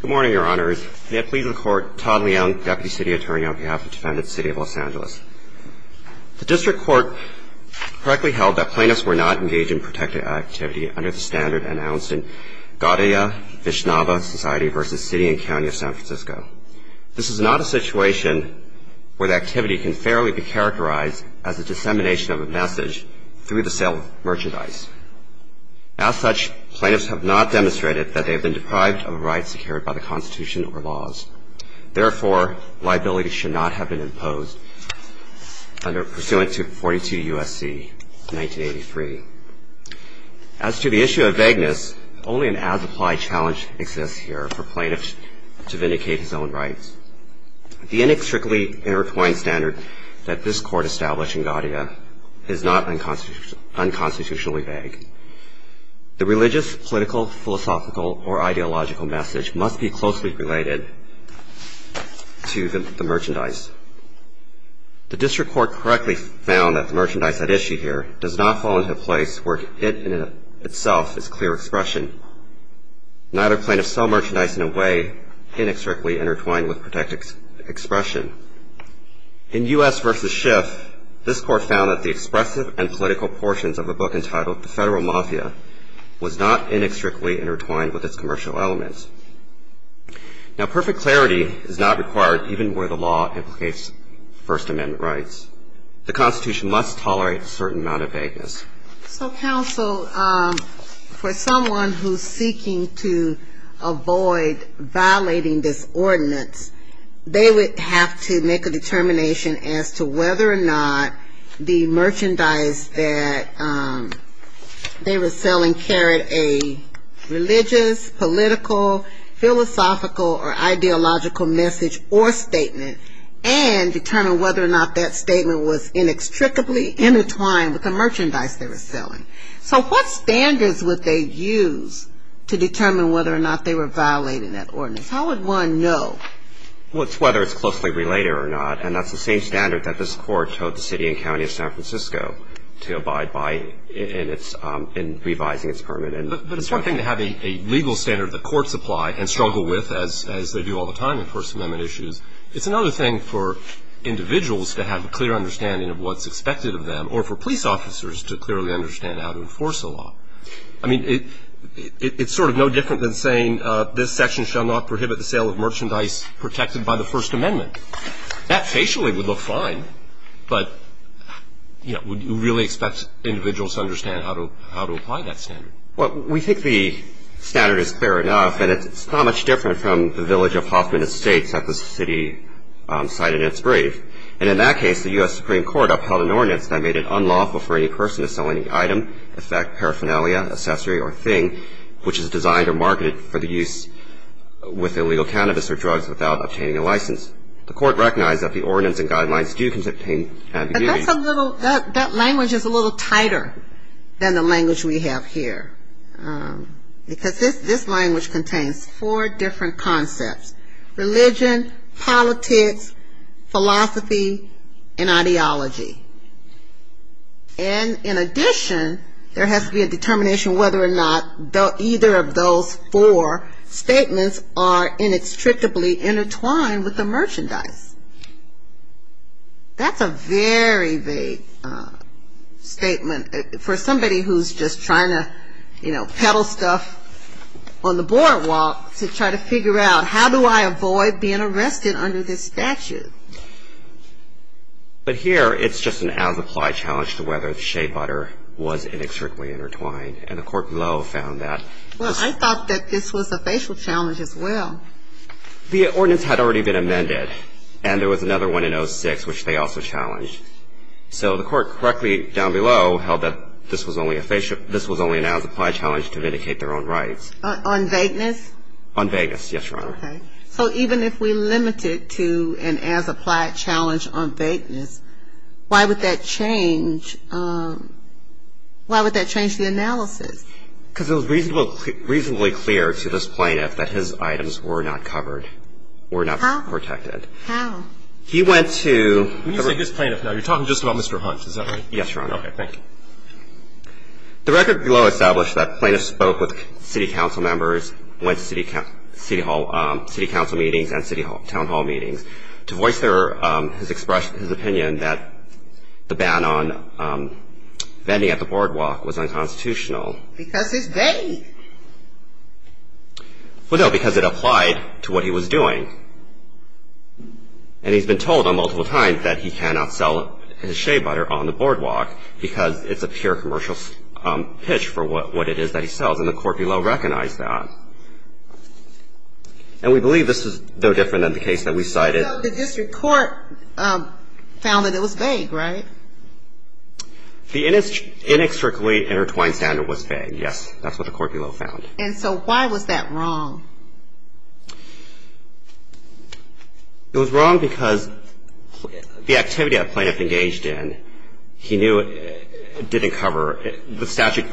Good morning, Your Honours. May it please the Court, Todd Leung, Deputy City Attorney on behalf of the Defendant's City of Los Angeles. The District Court correctly held that plaintiffs were not engaged in protected activity under the standard announced in Gaudia-Vishnava Society v. City and County of San Francisco. This is not a situation where the activity can fairly be characterized as the dissemination of a message through the sale of merchandise. As such, plaintiffs have not demonstrated that they have been deprived of a right secured by the Constitution or laws. Therefore, liability should not have been imposed pursuant to 42 U.S.C. 1983. As to the issue of vagueness, only an as-applied challenge exists here for plaintiffs to vindicate his own rights. The inextricably intertwined standard that this Court established in Gaudia is not unconstitutionally vague. The religious, political, philosophical, or ideological message must be closely related to the merchandise. The District Court correctly found that the merchandise at issue here does not fall into a place where it in itself is clear expression. Neither plaintiffs sell merchandise in a way inextricably intertwined with protected expression. In U.S. v. Schiff, this Court found that the expressive and political portions of a book entitled The Federal Mafia was not inextricably intertwined with its commercial elements. Now, perfect clarity is not required even where the law implicates First Amendment rights. The Constitution must tolerate a certain amount of vagueness. So, counsel, for someone who's seeking to avoid violating this ordinance, they would have to make a determination as to whether or not the merchandise that they were selling carried a religious, political, philosophical, or ideological message or statement, and determine whether or not that statement was inextricably intertwined with the merchandise they were selling. So, what standards would they use to determine whether or not they were violating that ordinance? How would one know? Well, it's whether it's closely related or not. And that's the same standard that this Court told the city and county of San Francisco to abide by in revising its permit. But it's one thing to have a legal standard that courts apply and struggle with, as they do all the time in First Amendment issues. It's another thing for individuals to have a clear understanding of what's expected of them, or for police officers to clearly understand how to enforce the law. I mean, it's sort of no different than saying, this section shall not prohibit the sale of merchandise protected by the First Amendment. That, facially, would look fine. But, you know, would you really expect individuals to understand how to apply that standard? Well, we think the standard is clear enough, and it's not much different from the village of Hoffman Estates that the city cited in its brief. And in that case, the U.S. Supreme Court upheld an ordinance that made it unlawful for any person to sell any item, in fact, paraphernalia, accessory, or thing, which is designed or marketed for the use with illegal cannabis or drugs without obtaining a license. The Court recognized that the ordinance and guidelines do contain ambiguities. That language is a little tighter than the language we have here. Because this language contains four different concepts, religion, politics, philosophy, and ideology. And in addition, there has to be a determination whether or not either of those four statements are inextricably intertwined with the merchandise. That's a very vague statement for somebody who's just trying to, you know, peddle stuff on the boardwalk to try to figure out, how do I avoid being arrested under this statute? But here, it's just an as-applied challenge to whether shea butter was inextricably intertwined. And the court below found that. Well, I thought that this was a facial challenge as well. The ordinance had already been amended, and there was another one in 06, which they also challenged. So the court correctly down below held that this was only an as-applied challenge to vindicate their own rights. On vagueness? On vagueness, yes, Your Honor. Okay. So even if we limited to an as-applied challenge on vagueness, why would that change the analysis? Because it was reasonably clear to this plaintiff that his items were not covered, were not protected. How? When you say this plaintiff now, you're talking just about Mr. Hunt, is that right? Yes, Your Honor. Okay, thank you. The record below established that plaintiff spoke with city council members, went to city council meetings and town hall meetings. To voice his opinion that the ban on vending at the boardwalk was unconstitutional, because it's vague. Well, no, because it applied to what he was doing. And he's been told on multiple times that he cannot sell his shea butter on the boardwalk, because it's a pure commercial pitch for what it is that he sells. And the court below recognized that. And we believe this is no different than the case that we cited. But the district court found that it was vague, right? The inextricably intertwined standard was vague. Yes, that's what the court below found. And so why was that wrong? It was wrong because the activity that plaintiff engaged in, he knew it didn't cover, the statute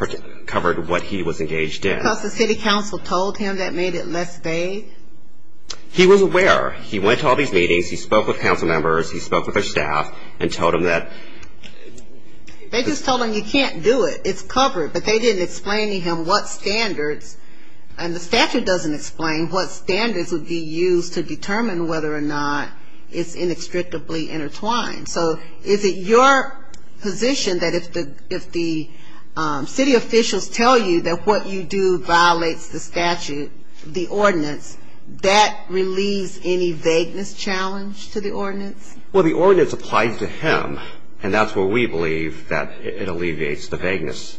covered what he was engaged in. Because the city council told him that made it less vague? He was aware. He went to all these meetings. He spoke with council members. He spoke with their staff and told them that. They just told him you can't do it. It's covered. But they didn't explain to him what standards. And the statute doesn't explain what standards would be used to determine whether or not it's inextricably intertwined. So is it your position that if the city officials tell you that what you do violates the statute, the ordinance, Well, the ordinance applies to him, and that's where we believe that it alleviates the vagueness.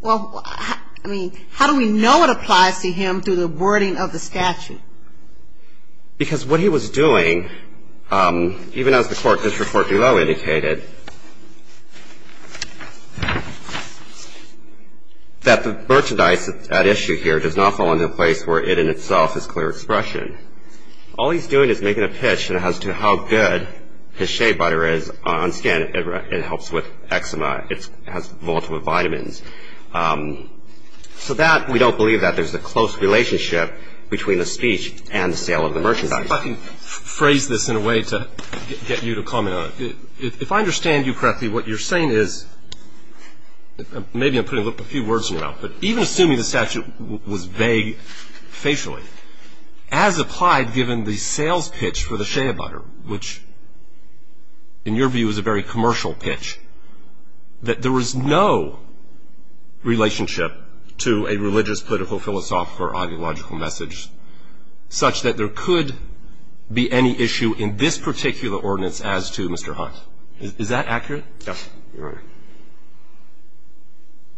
Well, I mean, how do we know it applies to him through the wording of the statute? Because what he was doing, even as the court district court below indicated, that the merchandise at issue here does not fall into a place where it in itself is clear expression. All he's doing is making a pitch as to how good his shea butter is on skin. It helps with eczema. It has multiple vitamins. So that, we don't believe that there's a close relationship between the speech and the sale of the merchandise. If I can phrase this in a way to get you to comment on it. If I understand you correctly, what you're saying is, maybe I'm putting a few words in your mouth, but even assuming the statute was vague facially, as applied given the sales pitch for the shea butter, which in your view is a very commercial pitch, that there was no relationship to a religious, political, philosophical, or ideological message such that there could be any issue in this particular ordinance as to Mr. Hunt. Is that accurate? Yes, Your Honor.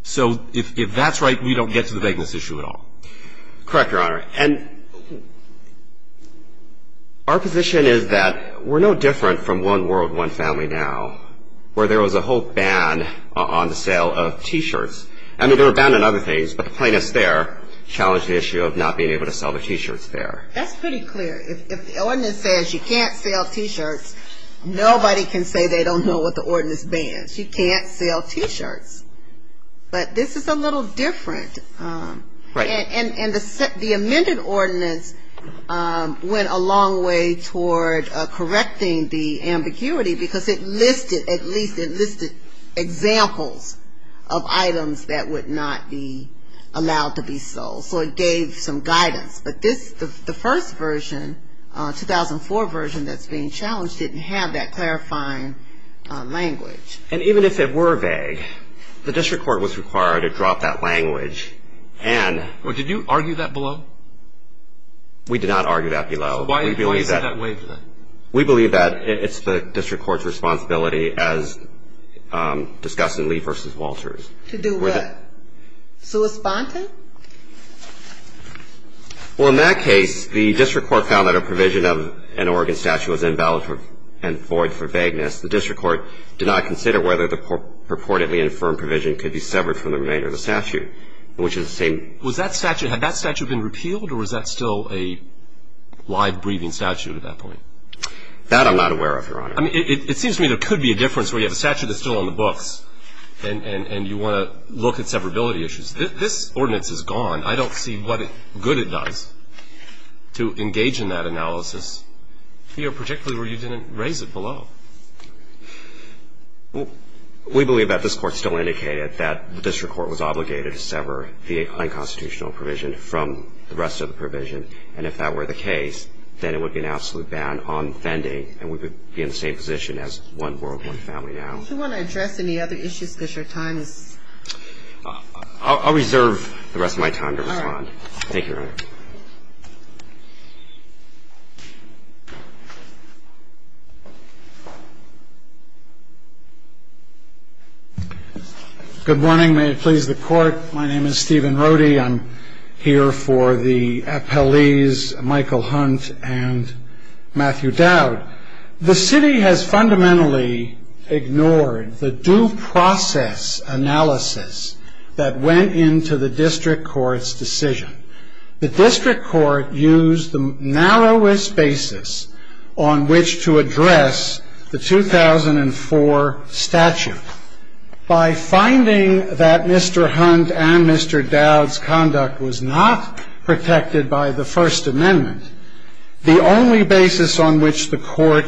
So if that's right, we don't get to the vagueness issue at all? Correct, Your Honor. And our position is that we're no different from one world, one family now, where there was a whole ban on the sale of T-shirts. I mean, there were a ban on other things, but the plaintiffs there challenged the issue of not being able to sell the T-shirts there. That's pretty clear. If the ordinance says you can't sell T-shirts, nobody can say they don't know what the ordinance bans. You can't sell T-shirts. But this is a little different. Right. And the amended ordinance went a long way toward correcting the ambiguity, because it listed, at least it listed examples of items that would not be allowed to be sold. So it gave some guidance. But this, the first version, 2004 version that's being challenged, didn't have that clarifying language. And even if it were vague, the district court was required to drop that language. Well, did you argue that below? We did not argue that below. Why do you say that way, then? We believe that it's the district court's responsibility as discussed in Lee v. Walters. To do what? Well, in that case, the district court found that a provision of an Oregon statute was invalid and void for vagueness. The district court did not consider whether the purportedly infirm provision could be severed from the remainder of the statute, which is the same. Was that statute, had that statute been repealed, or was that still a live, breathing statute at that point? That I'm not aware of, Your Honor. I mean, it seems to me there could be a difference where you have a statute that's still on the books, and you want to look at severability issues. This ordinance is gone. I don't see what good it does to engage in that analysis here, particularly where you didn't raise it below. We believe that this court still indicated that the district court was obligated to sever the unconstitutional provision from the rest of the provision. And if that were the case, then it would be an absolute ban on vending, and we would be in the same position as one board, one family now. Do you want to address any other issues? Because your time is up. I'll reserve the rest of my time to respond. All right. Thank you, Your Honor. Good morning. May it please the Court. My name is Stephen Rohde. I'm here for the appellees, Michael Hunt and Matthew Dowd. The city has fundamentally ignored the due process analysis that went into the district court's decision. The district court used the narrowest basis on which to address the 2004 statute. By finding that Mr. Hunt and Mr. Dowd's conduct was not protected by the First Amendment, the only basis on which the court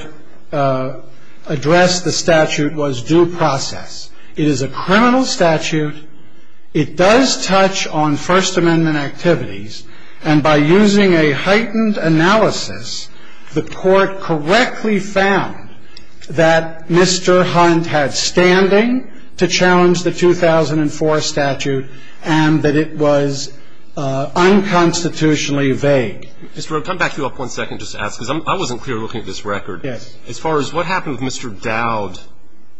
addressed the statute was due process. It is a criminal statute. It does touch on First Amendment activities. And by using a heightened analysis, the court correctly found that Mr. Hunt had standing to challenge the 2004 statute and that it was unconstitutionally vague. Mr. Rohde, can I back you up one second just to ask, because I wasn't clear looking at this record. Yes. As far as what happened with Mr. Dowd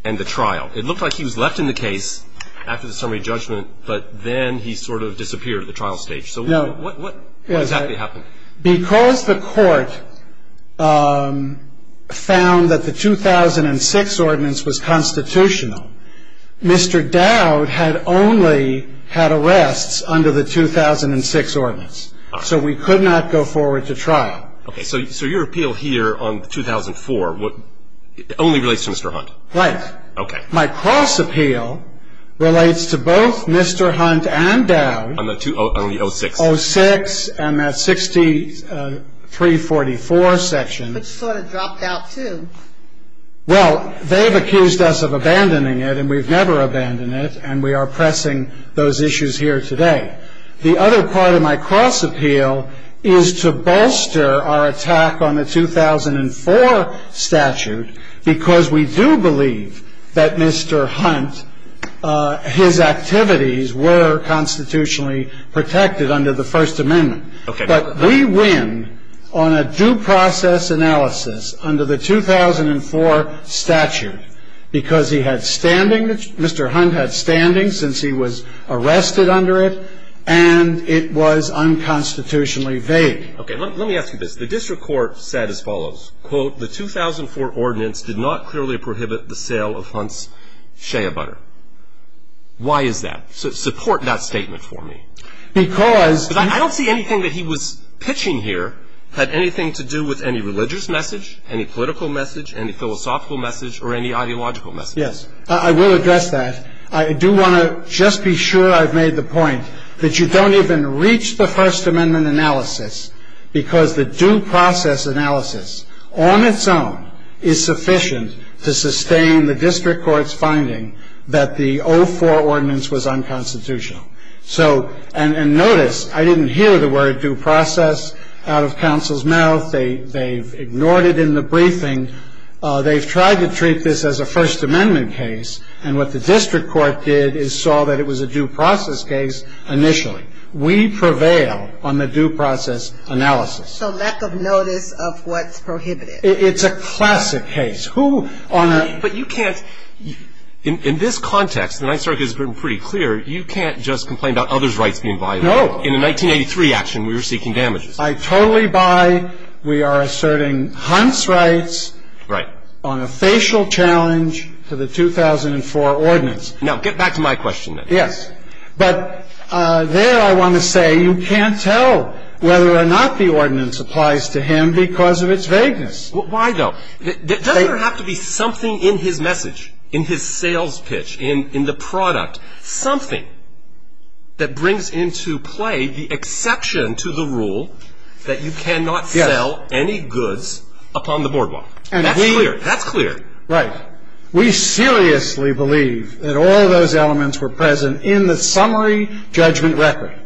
and the trial, it looked like he was left in the case after the summary judgment, but then he sort of disappeared at the trial stage. So what exactly happened? Because the court found that the 2006 ordinance was constitutional, Mr. Dowd had only had arrests under the 2006 ordinance. So we could not go forward to trial. Okay. So your appeal here on 2004 only relates to Mr. Hunt? Right. Okay. My cross appeal relates to both Mr. Hunt and Dowd. On the 2006? 2006 and that 6344 section. But you sort of dropped out, too. Well, they've accused us of abandoning it, and we've never abandoned it, and we are pressing those issues here today. The other part of my cross appeal is to bolster our attack on the 2004 statute, because we do believe that Mr. Hunt, his activities were constitutionally protected under the First Amendment. Okay. But we win on a due process analysis under the 2004 statute because he had standing, Mr. Hunt had standing since he was arrested under it, and it was unconstitutionally vague. Okay. Let me ask you this. The district court said as follows. Quote, the 2004 ordinance did not clearly prohibit the sale of Hunt's shea butter. Why is that? Support that statement for me. Because. Because I don't see anything that he was pitching here had anything to do with any religious message, any political message, any philosophical message, or any ideological message. Yes. I will address that. I do want to just be sure I've made the point that you don't even reach the First Amendment analysis, because the due process analysis on its own is sufficient to sustain the district court's finding that the 2004 ordinance was unconstitutional. So, and notice, I didn't hear the word due process out of counsel's mouth. They've ignored it in the briefing. They've tried to treat this as a First Amendment case, and what the district court did is saw that it was a due process case initially. We prevail on the due process analysis. So lack of notice of what's prohibited. It's a classic case. Who on earth. But you can't. In this context, the Ninth Circuit has been pretty clear, you can't just complain about others' rights being violated. No. In the 1983 action, we were seeking damages. I totally buy. We are asserting Hunt's rights. Right. On a facial challenge to the 2004 ordinance. Now, get back to my question, then. Yes. But there I want to say you can't tell whether or not the ordinance applies to him because of its vagueness. Why, though? Doesn't there have to be something in his message, in his sales pitch, in the product, something that brings into play the exception to the rule that you cannot sell any goods upon the boardwalk? That's clear. That's clear. Right. We seriously believe that all of those elements were present in the summary judgment record.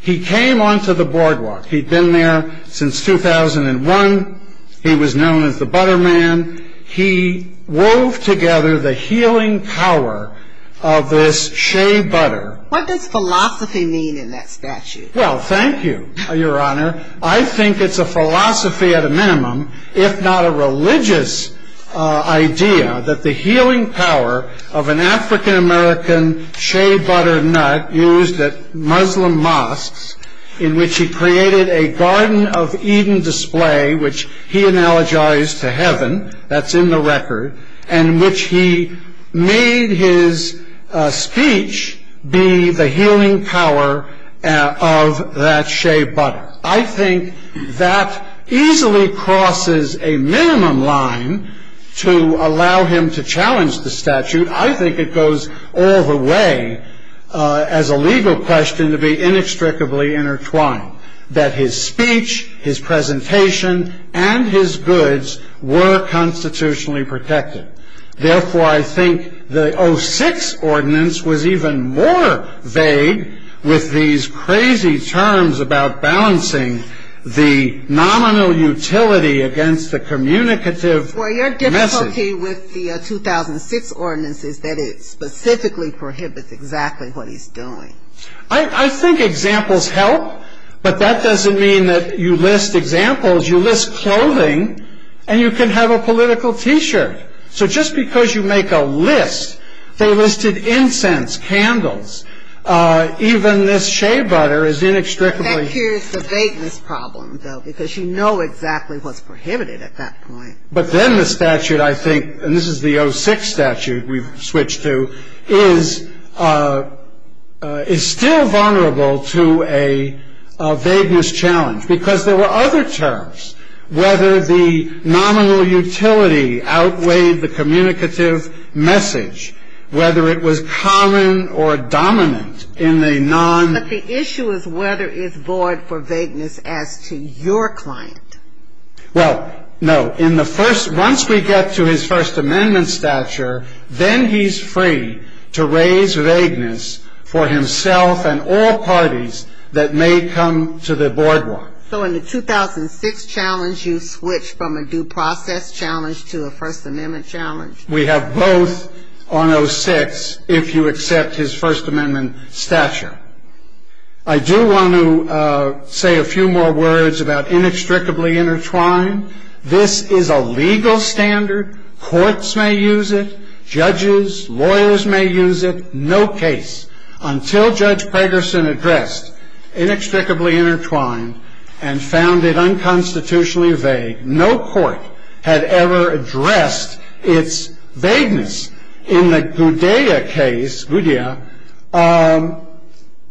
He came onto the boardwalk. He'd been there since 2001. He was known as the butter man. He wove together the healing power of this shea butter. What does philosophy mean in that statute? Well, thank you, Your Honor. I think it's a philosophy at a minimum, if not a religious idea, that the healing power of an African-American shea butter nut used at Muslim mosques, in which he created a Garden of Eden display, which he analogized to heaven. That's in the record. And in which he made his speech be the healing power of that shea butter. I think that easily crosses a minimum line to allow him to challenge the statute. I think it goes all the way, as a legal question, to be inextricably intertwined. That his speech, his presentation, and his goods were constitutionally protected. Therefore, I think the 06 ordinance was even more vague with these crazy terms about balancing the nominal utility against the communicative message. Well, your difficulty with the 2006 ordinance is that it specifically prohibits exactly what he's doing. I think examples help, but that doesn't mean that you list examples. You list clothing, and you can have a political T-shirt. So just because you make a list, they listed incense, candles, even this shea butter is inextricably. That cures the vagueness problem, though, because you know exactly what's prohibited at that point. But then the statute, I think, and this is the 06 statute we've switched to, is still vulnerable to a vagueness challenge. Because there were other terms. Whether the nominal utility outweighed the communicative message, whether it was common or dominant in a non- But the issue is whether it's void for vagueness as to your client. Well, no. Once we get to his First Amendment stature, then he's free to raise vagueness for himself and all parties that may come to the boardwalk. So in the 2006 challenge, you switched from a due process challenge to a First Amendment challenge? We have both on 06 if you accept his First Amendment stature. I do want to say a few more words about inextricably intertwined. This is a legal standard. Courts may use it. Judges, lawyers may use it. No case until Judge Pegerson addressed inextricably intertwined and found it unconstitutionally vague. No court had ever addressed its vagueness. In the Gudea case, Gudea,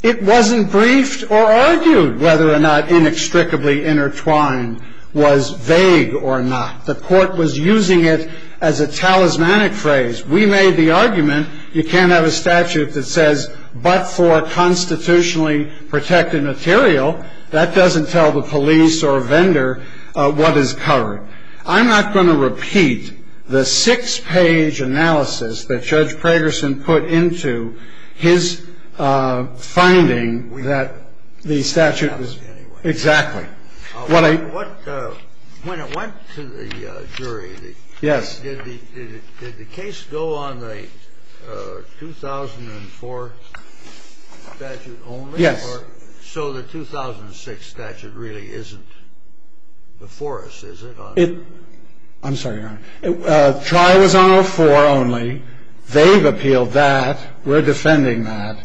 it wasn't briefed or argued whether or not inextricably intertwined was vague or not. The court was using it as a talismanic phrase. We made the argument you can't have a statute that says but for constitutionally protected material. That doesn't tell the police or vendor what is covered. I'm not going to repeat the six-page analysis that Judge Pegerson put into his finding that the statute was. Exactly. When it went to the jury. Yes. Did the case go on the 2004 statute only? Yes. So the 2006 statute really isn't before us, is it? I'm sorry, Your Honor. Tri was on 04 only. They've appealed that. We're defending that.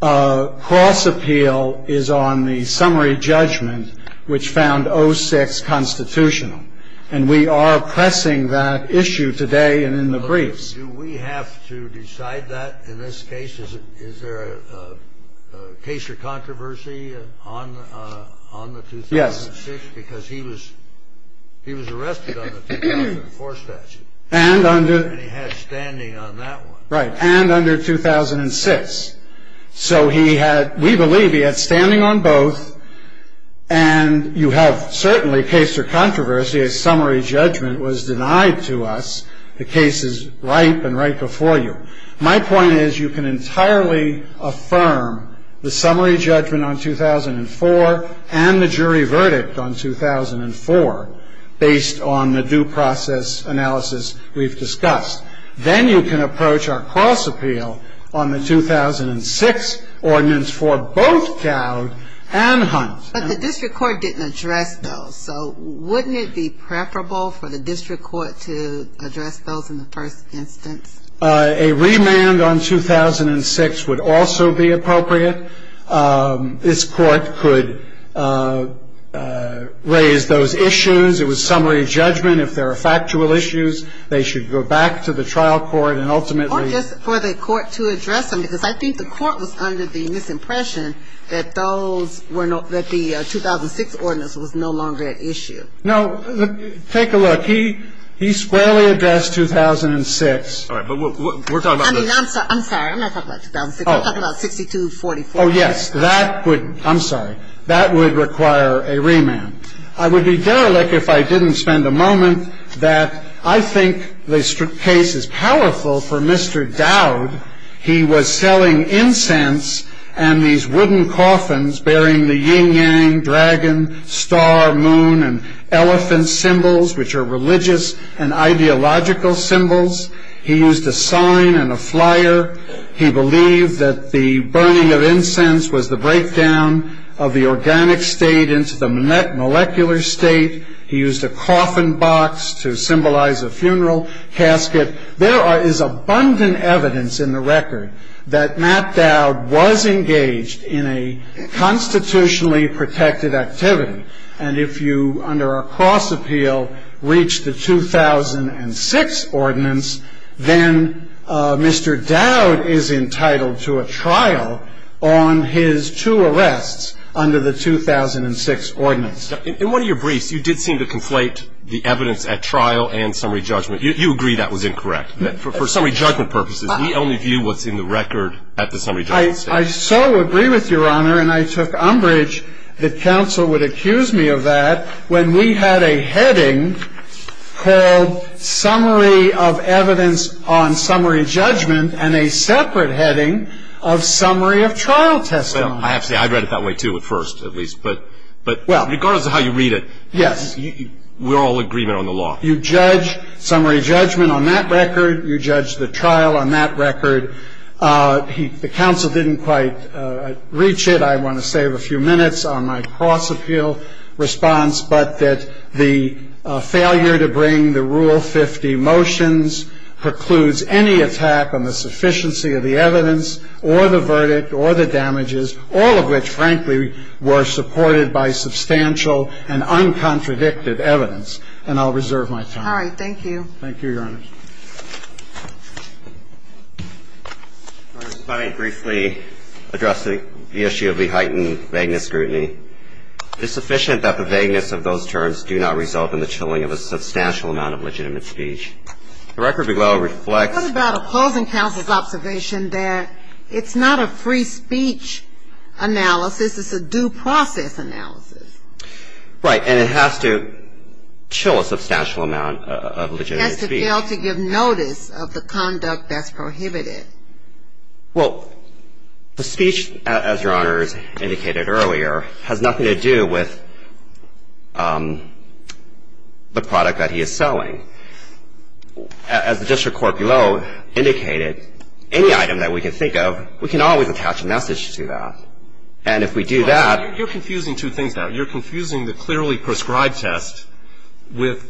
Cross appeal is on the summary judgment, which found 06 constitutional. And we are pressing that issue today and in the briefs. Do we have to decide that in this case? Is there a case or controversy on the 2006? Yes. Because he was arrested on the 2004 statute. And he had standing on that one. Right. And under 2006. So we believe he had standing on both. And you have certainly case or controversy. A summary judgment was denied to us. The case is ripe and right before you. My point is you can entirely affirm the summary judgment on 2004 and the jury verdict on 2004 based on the due process analysis we've discussed. Then you can approach our cross appeal on the 2006 ordinance for both Cowd and Hunt. But the district court didn't address those. So wouldn't it be preferable for the district court to address those in the first instance? A remand on 2006 would also be appropriate. This court could raise those issues. It was summary judgment. If there are factual issues, they should go back to the trial court and ultimately. Or just for the court to address them. Because I think the court was under the misimpression that those were not the 2006 ordinance was no longer at issue. No. Take a look. He squarely addressed 2006. All right. But we're talking about. I'm sorry. I'm not talking about 2006. I'm talking about 6244. Oh, yes. That would. I'm sorry. That would require a remand. I would be derelict if I didn't spend a moment that I think the case is powerful for Mr. Dowd. He was selling incense and these wooden coffins bearing the yin yang, dragon, star, moon, and elephant symbols, which are religious and ideological symbols. He used a sign and a flyer. He believed that the burning of incense was the breakdown of the organic state into the molecular state. He used a coffin box to symbolize a funeral casket. There is abundant evidence in the record that Matt Dowd was engaged in a constitutionally protected activity. And if you, under a cross appeal, reach the 2006 ordinance, then Mr. Dowd is entitled to a trial on his two arrests under the 2006 ordinance. In one of your briefs, you did seem to conflate the evidence at trial and summary judgment. You agree that was incorrect. For summary judgment purposes, we only view what's in the record at the summary judgment stage. I so agree with Your Honor, and I took umbrage that counsel would accuse me of that, when we had a heading called Summary of Evidence on Summary Judgment and a separate heading of Summary of Trial Testimony. I have to say, I read it that way, too, at first, at least. But regardless of how you read it, we're all in agreement on the law. You judge summary judgment on that record. You judge the trial on that record. The counsel didn't quite reach it. I want to save a few minutes on my cross appeal response, but that the failure to bring the Rule 50 motions precludes any attack on the sufficiency of the evidence or the verdict or the damages, all of which, frankly, were supported by substantial and uncontradicted evidence. And I'll reserve my time. All right. Thank you, Your Honor. If I may briefly address the issue of the heightened vagueness scrutiny. It's sufficient that the vagueness of those terms do not result in the chilling of a substantial amount of legitimate speech. The record below reflects the ---- It was about opposing counsel's observation that it's not a free speech analysis, it's a due process analysis. And it has to chill a substantial amount of legitimate speech. It has to fail to give notice of the conduct that's prohibited. Well, the speech, as Your Honor has indicated earlier, has nothing to do with the product that he is selling. As the district court below indicated, any item that we can think of, we can always attach a message to that. And if we do that ---- Well, you're confusing two things now. You're confusing the clearly prescribed test with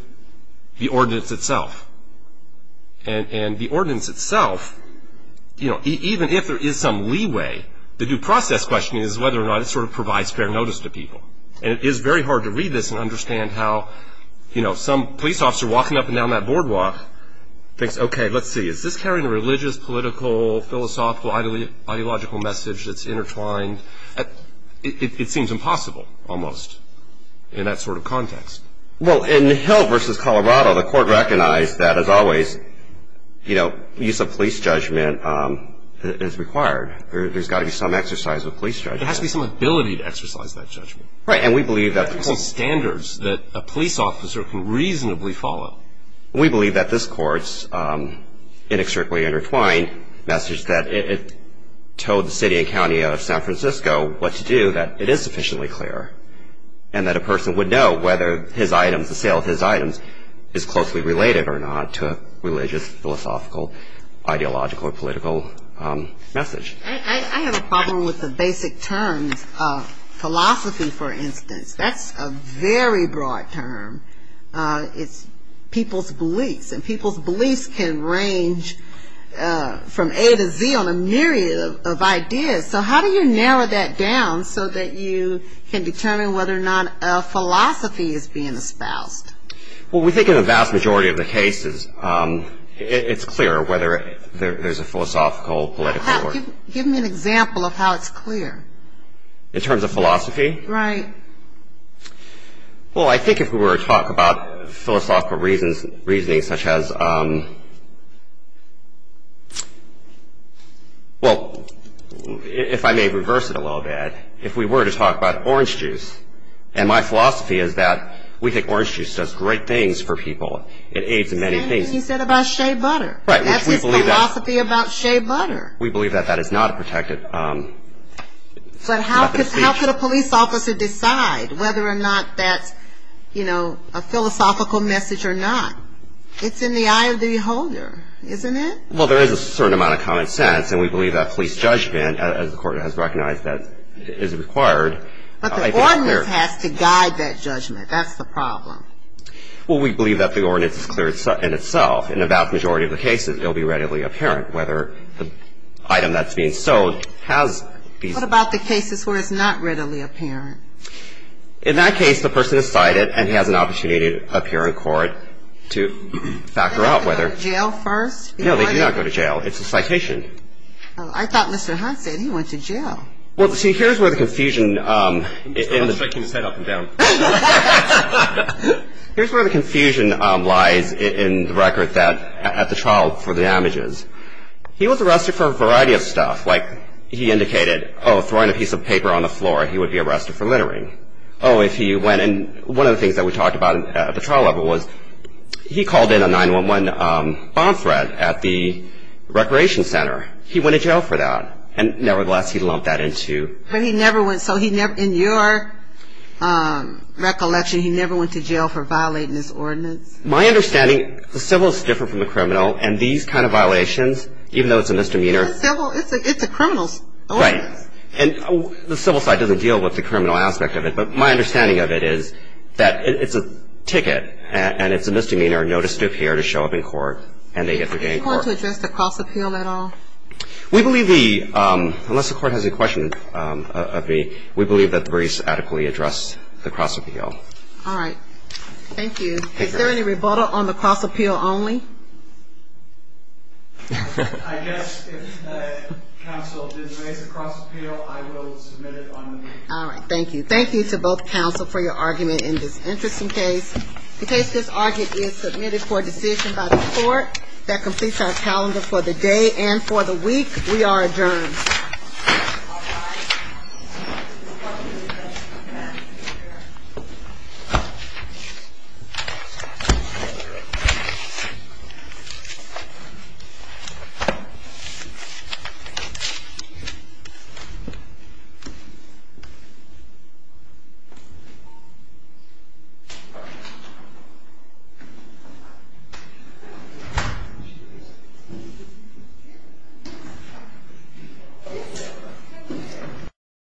the ordinance itself. And the ordinance itself, you know, even if there is some leeway, the due process question is whether or not it sort of provides fair notice to people. And it is very hard to read this and understand how, you know, some police officer walking up and down that boardwalk thinks, okay, let's see, is this carrying a religious, political, philosophical, ideological message that's intertwined? It seems impossible almost in that sort of context. Well, in Hill v. Colorado, the court recognized that, as always, you know, use of police judgment is required. There's got to be some exercise of police judgment. There has to be some ability to exercise that judgment. Right. And we believe that ---- There are some standards that a police officer can reasonably follow. We believe that this court's inextricably intertwined message that it towed the city and county out of San Francisco what to do, that it is sufficiently clear, and that a person would know whether his items, the sale of his items, is closely related or not to a religious, philosophical, ideological, or political message. I have a problem with the basic terms of philosophy, for instance. That's a very broad term. It's people's beliefs. And people's beliefs can range from A to Z on a myriad of ideas. So how do you narrow that down so that you can determine whether or not a philosophy is being espoused? Well, we think in the vast majority of the cases it's clear whether there's a philosophical, political or ---- Give me an example of how it's clear. In terms of philosophy? Right. Well, I think if we were to talk about philosophical reasoning such as ---- Well, if I may reverse it a little bit, if we were to talk about orange juice, and my philosophy is that we think orange juice does great things for people. It aids in many things. He said about shea butter. Right. That's his philosophy about shea butter. We believe that that is not a protected ---- But how could a police officer decide whether or not that's, you know, a philosophical message or not? It's in the eye of the beholder, isn't it? Well, there is a certain amount of common sense, and we believe that police judgment, as the Court has recognized that is required. But the ordinance has to guide that judgment. That's the problem. Well, we believe that the ordinance is clear in itself. In the vast majority of the cases, it will be readily apparent whether the item that's being sold has these ---- Well, what about the cases where it's not readily apparent? In that case, the person is cited, and he has an opportunity to appear in court to factor out whether ---- Do they go to jail first? No, they do not go to jail. It's a citation. I thought Mr. Hunt said he went to jail. Well, see, here's where the confusion ---- I'm shaking his head up and down. Here's where the confusion lies in the record that at the trial for the damages. He was arrested for a variety of stuff. Like he indicated, oh, throwing a piece of paper on the floor, he would be arrested for littering. Oh, if he went ---- and one of the things that we talked about at the trial level was he called in a 911 bomb threat at the recreation center. He went to jail for that. And nevertheless, he lumped that into ---- But he never went, so he never ---- in your recollection, he never went to jail for violating this ordinance? My understanding, the civil is different from the criminal, and these kind of violations, even though it's a misdemeanor ---- It's a civil. It's a criminal's ordinance. Right. And the civil side doesn't deal with the criminal aspect of it, but my understanding of it is that it's a ticket, and it's a misdemeanor notice to appear to show up in court, and they get their day in court. Do you want to address the cross-appeal at all? We believe the ---- unless the court has a question of me, we believe that the briefs adequately address the cross-appeal. All right. Thank you. Is there any rebuttal on the cross-appeal only? I guess if counsel did raise the cross-appeal, I will submit it on the meeting. All right. Thank you. Thank you to both counsel for your argument in this interesting case. In case this argument is submitted for a decision by the court that completes our calendar for the day and for the week, we are adjourned. Thank you. Thank you.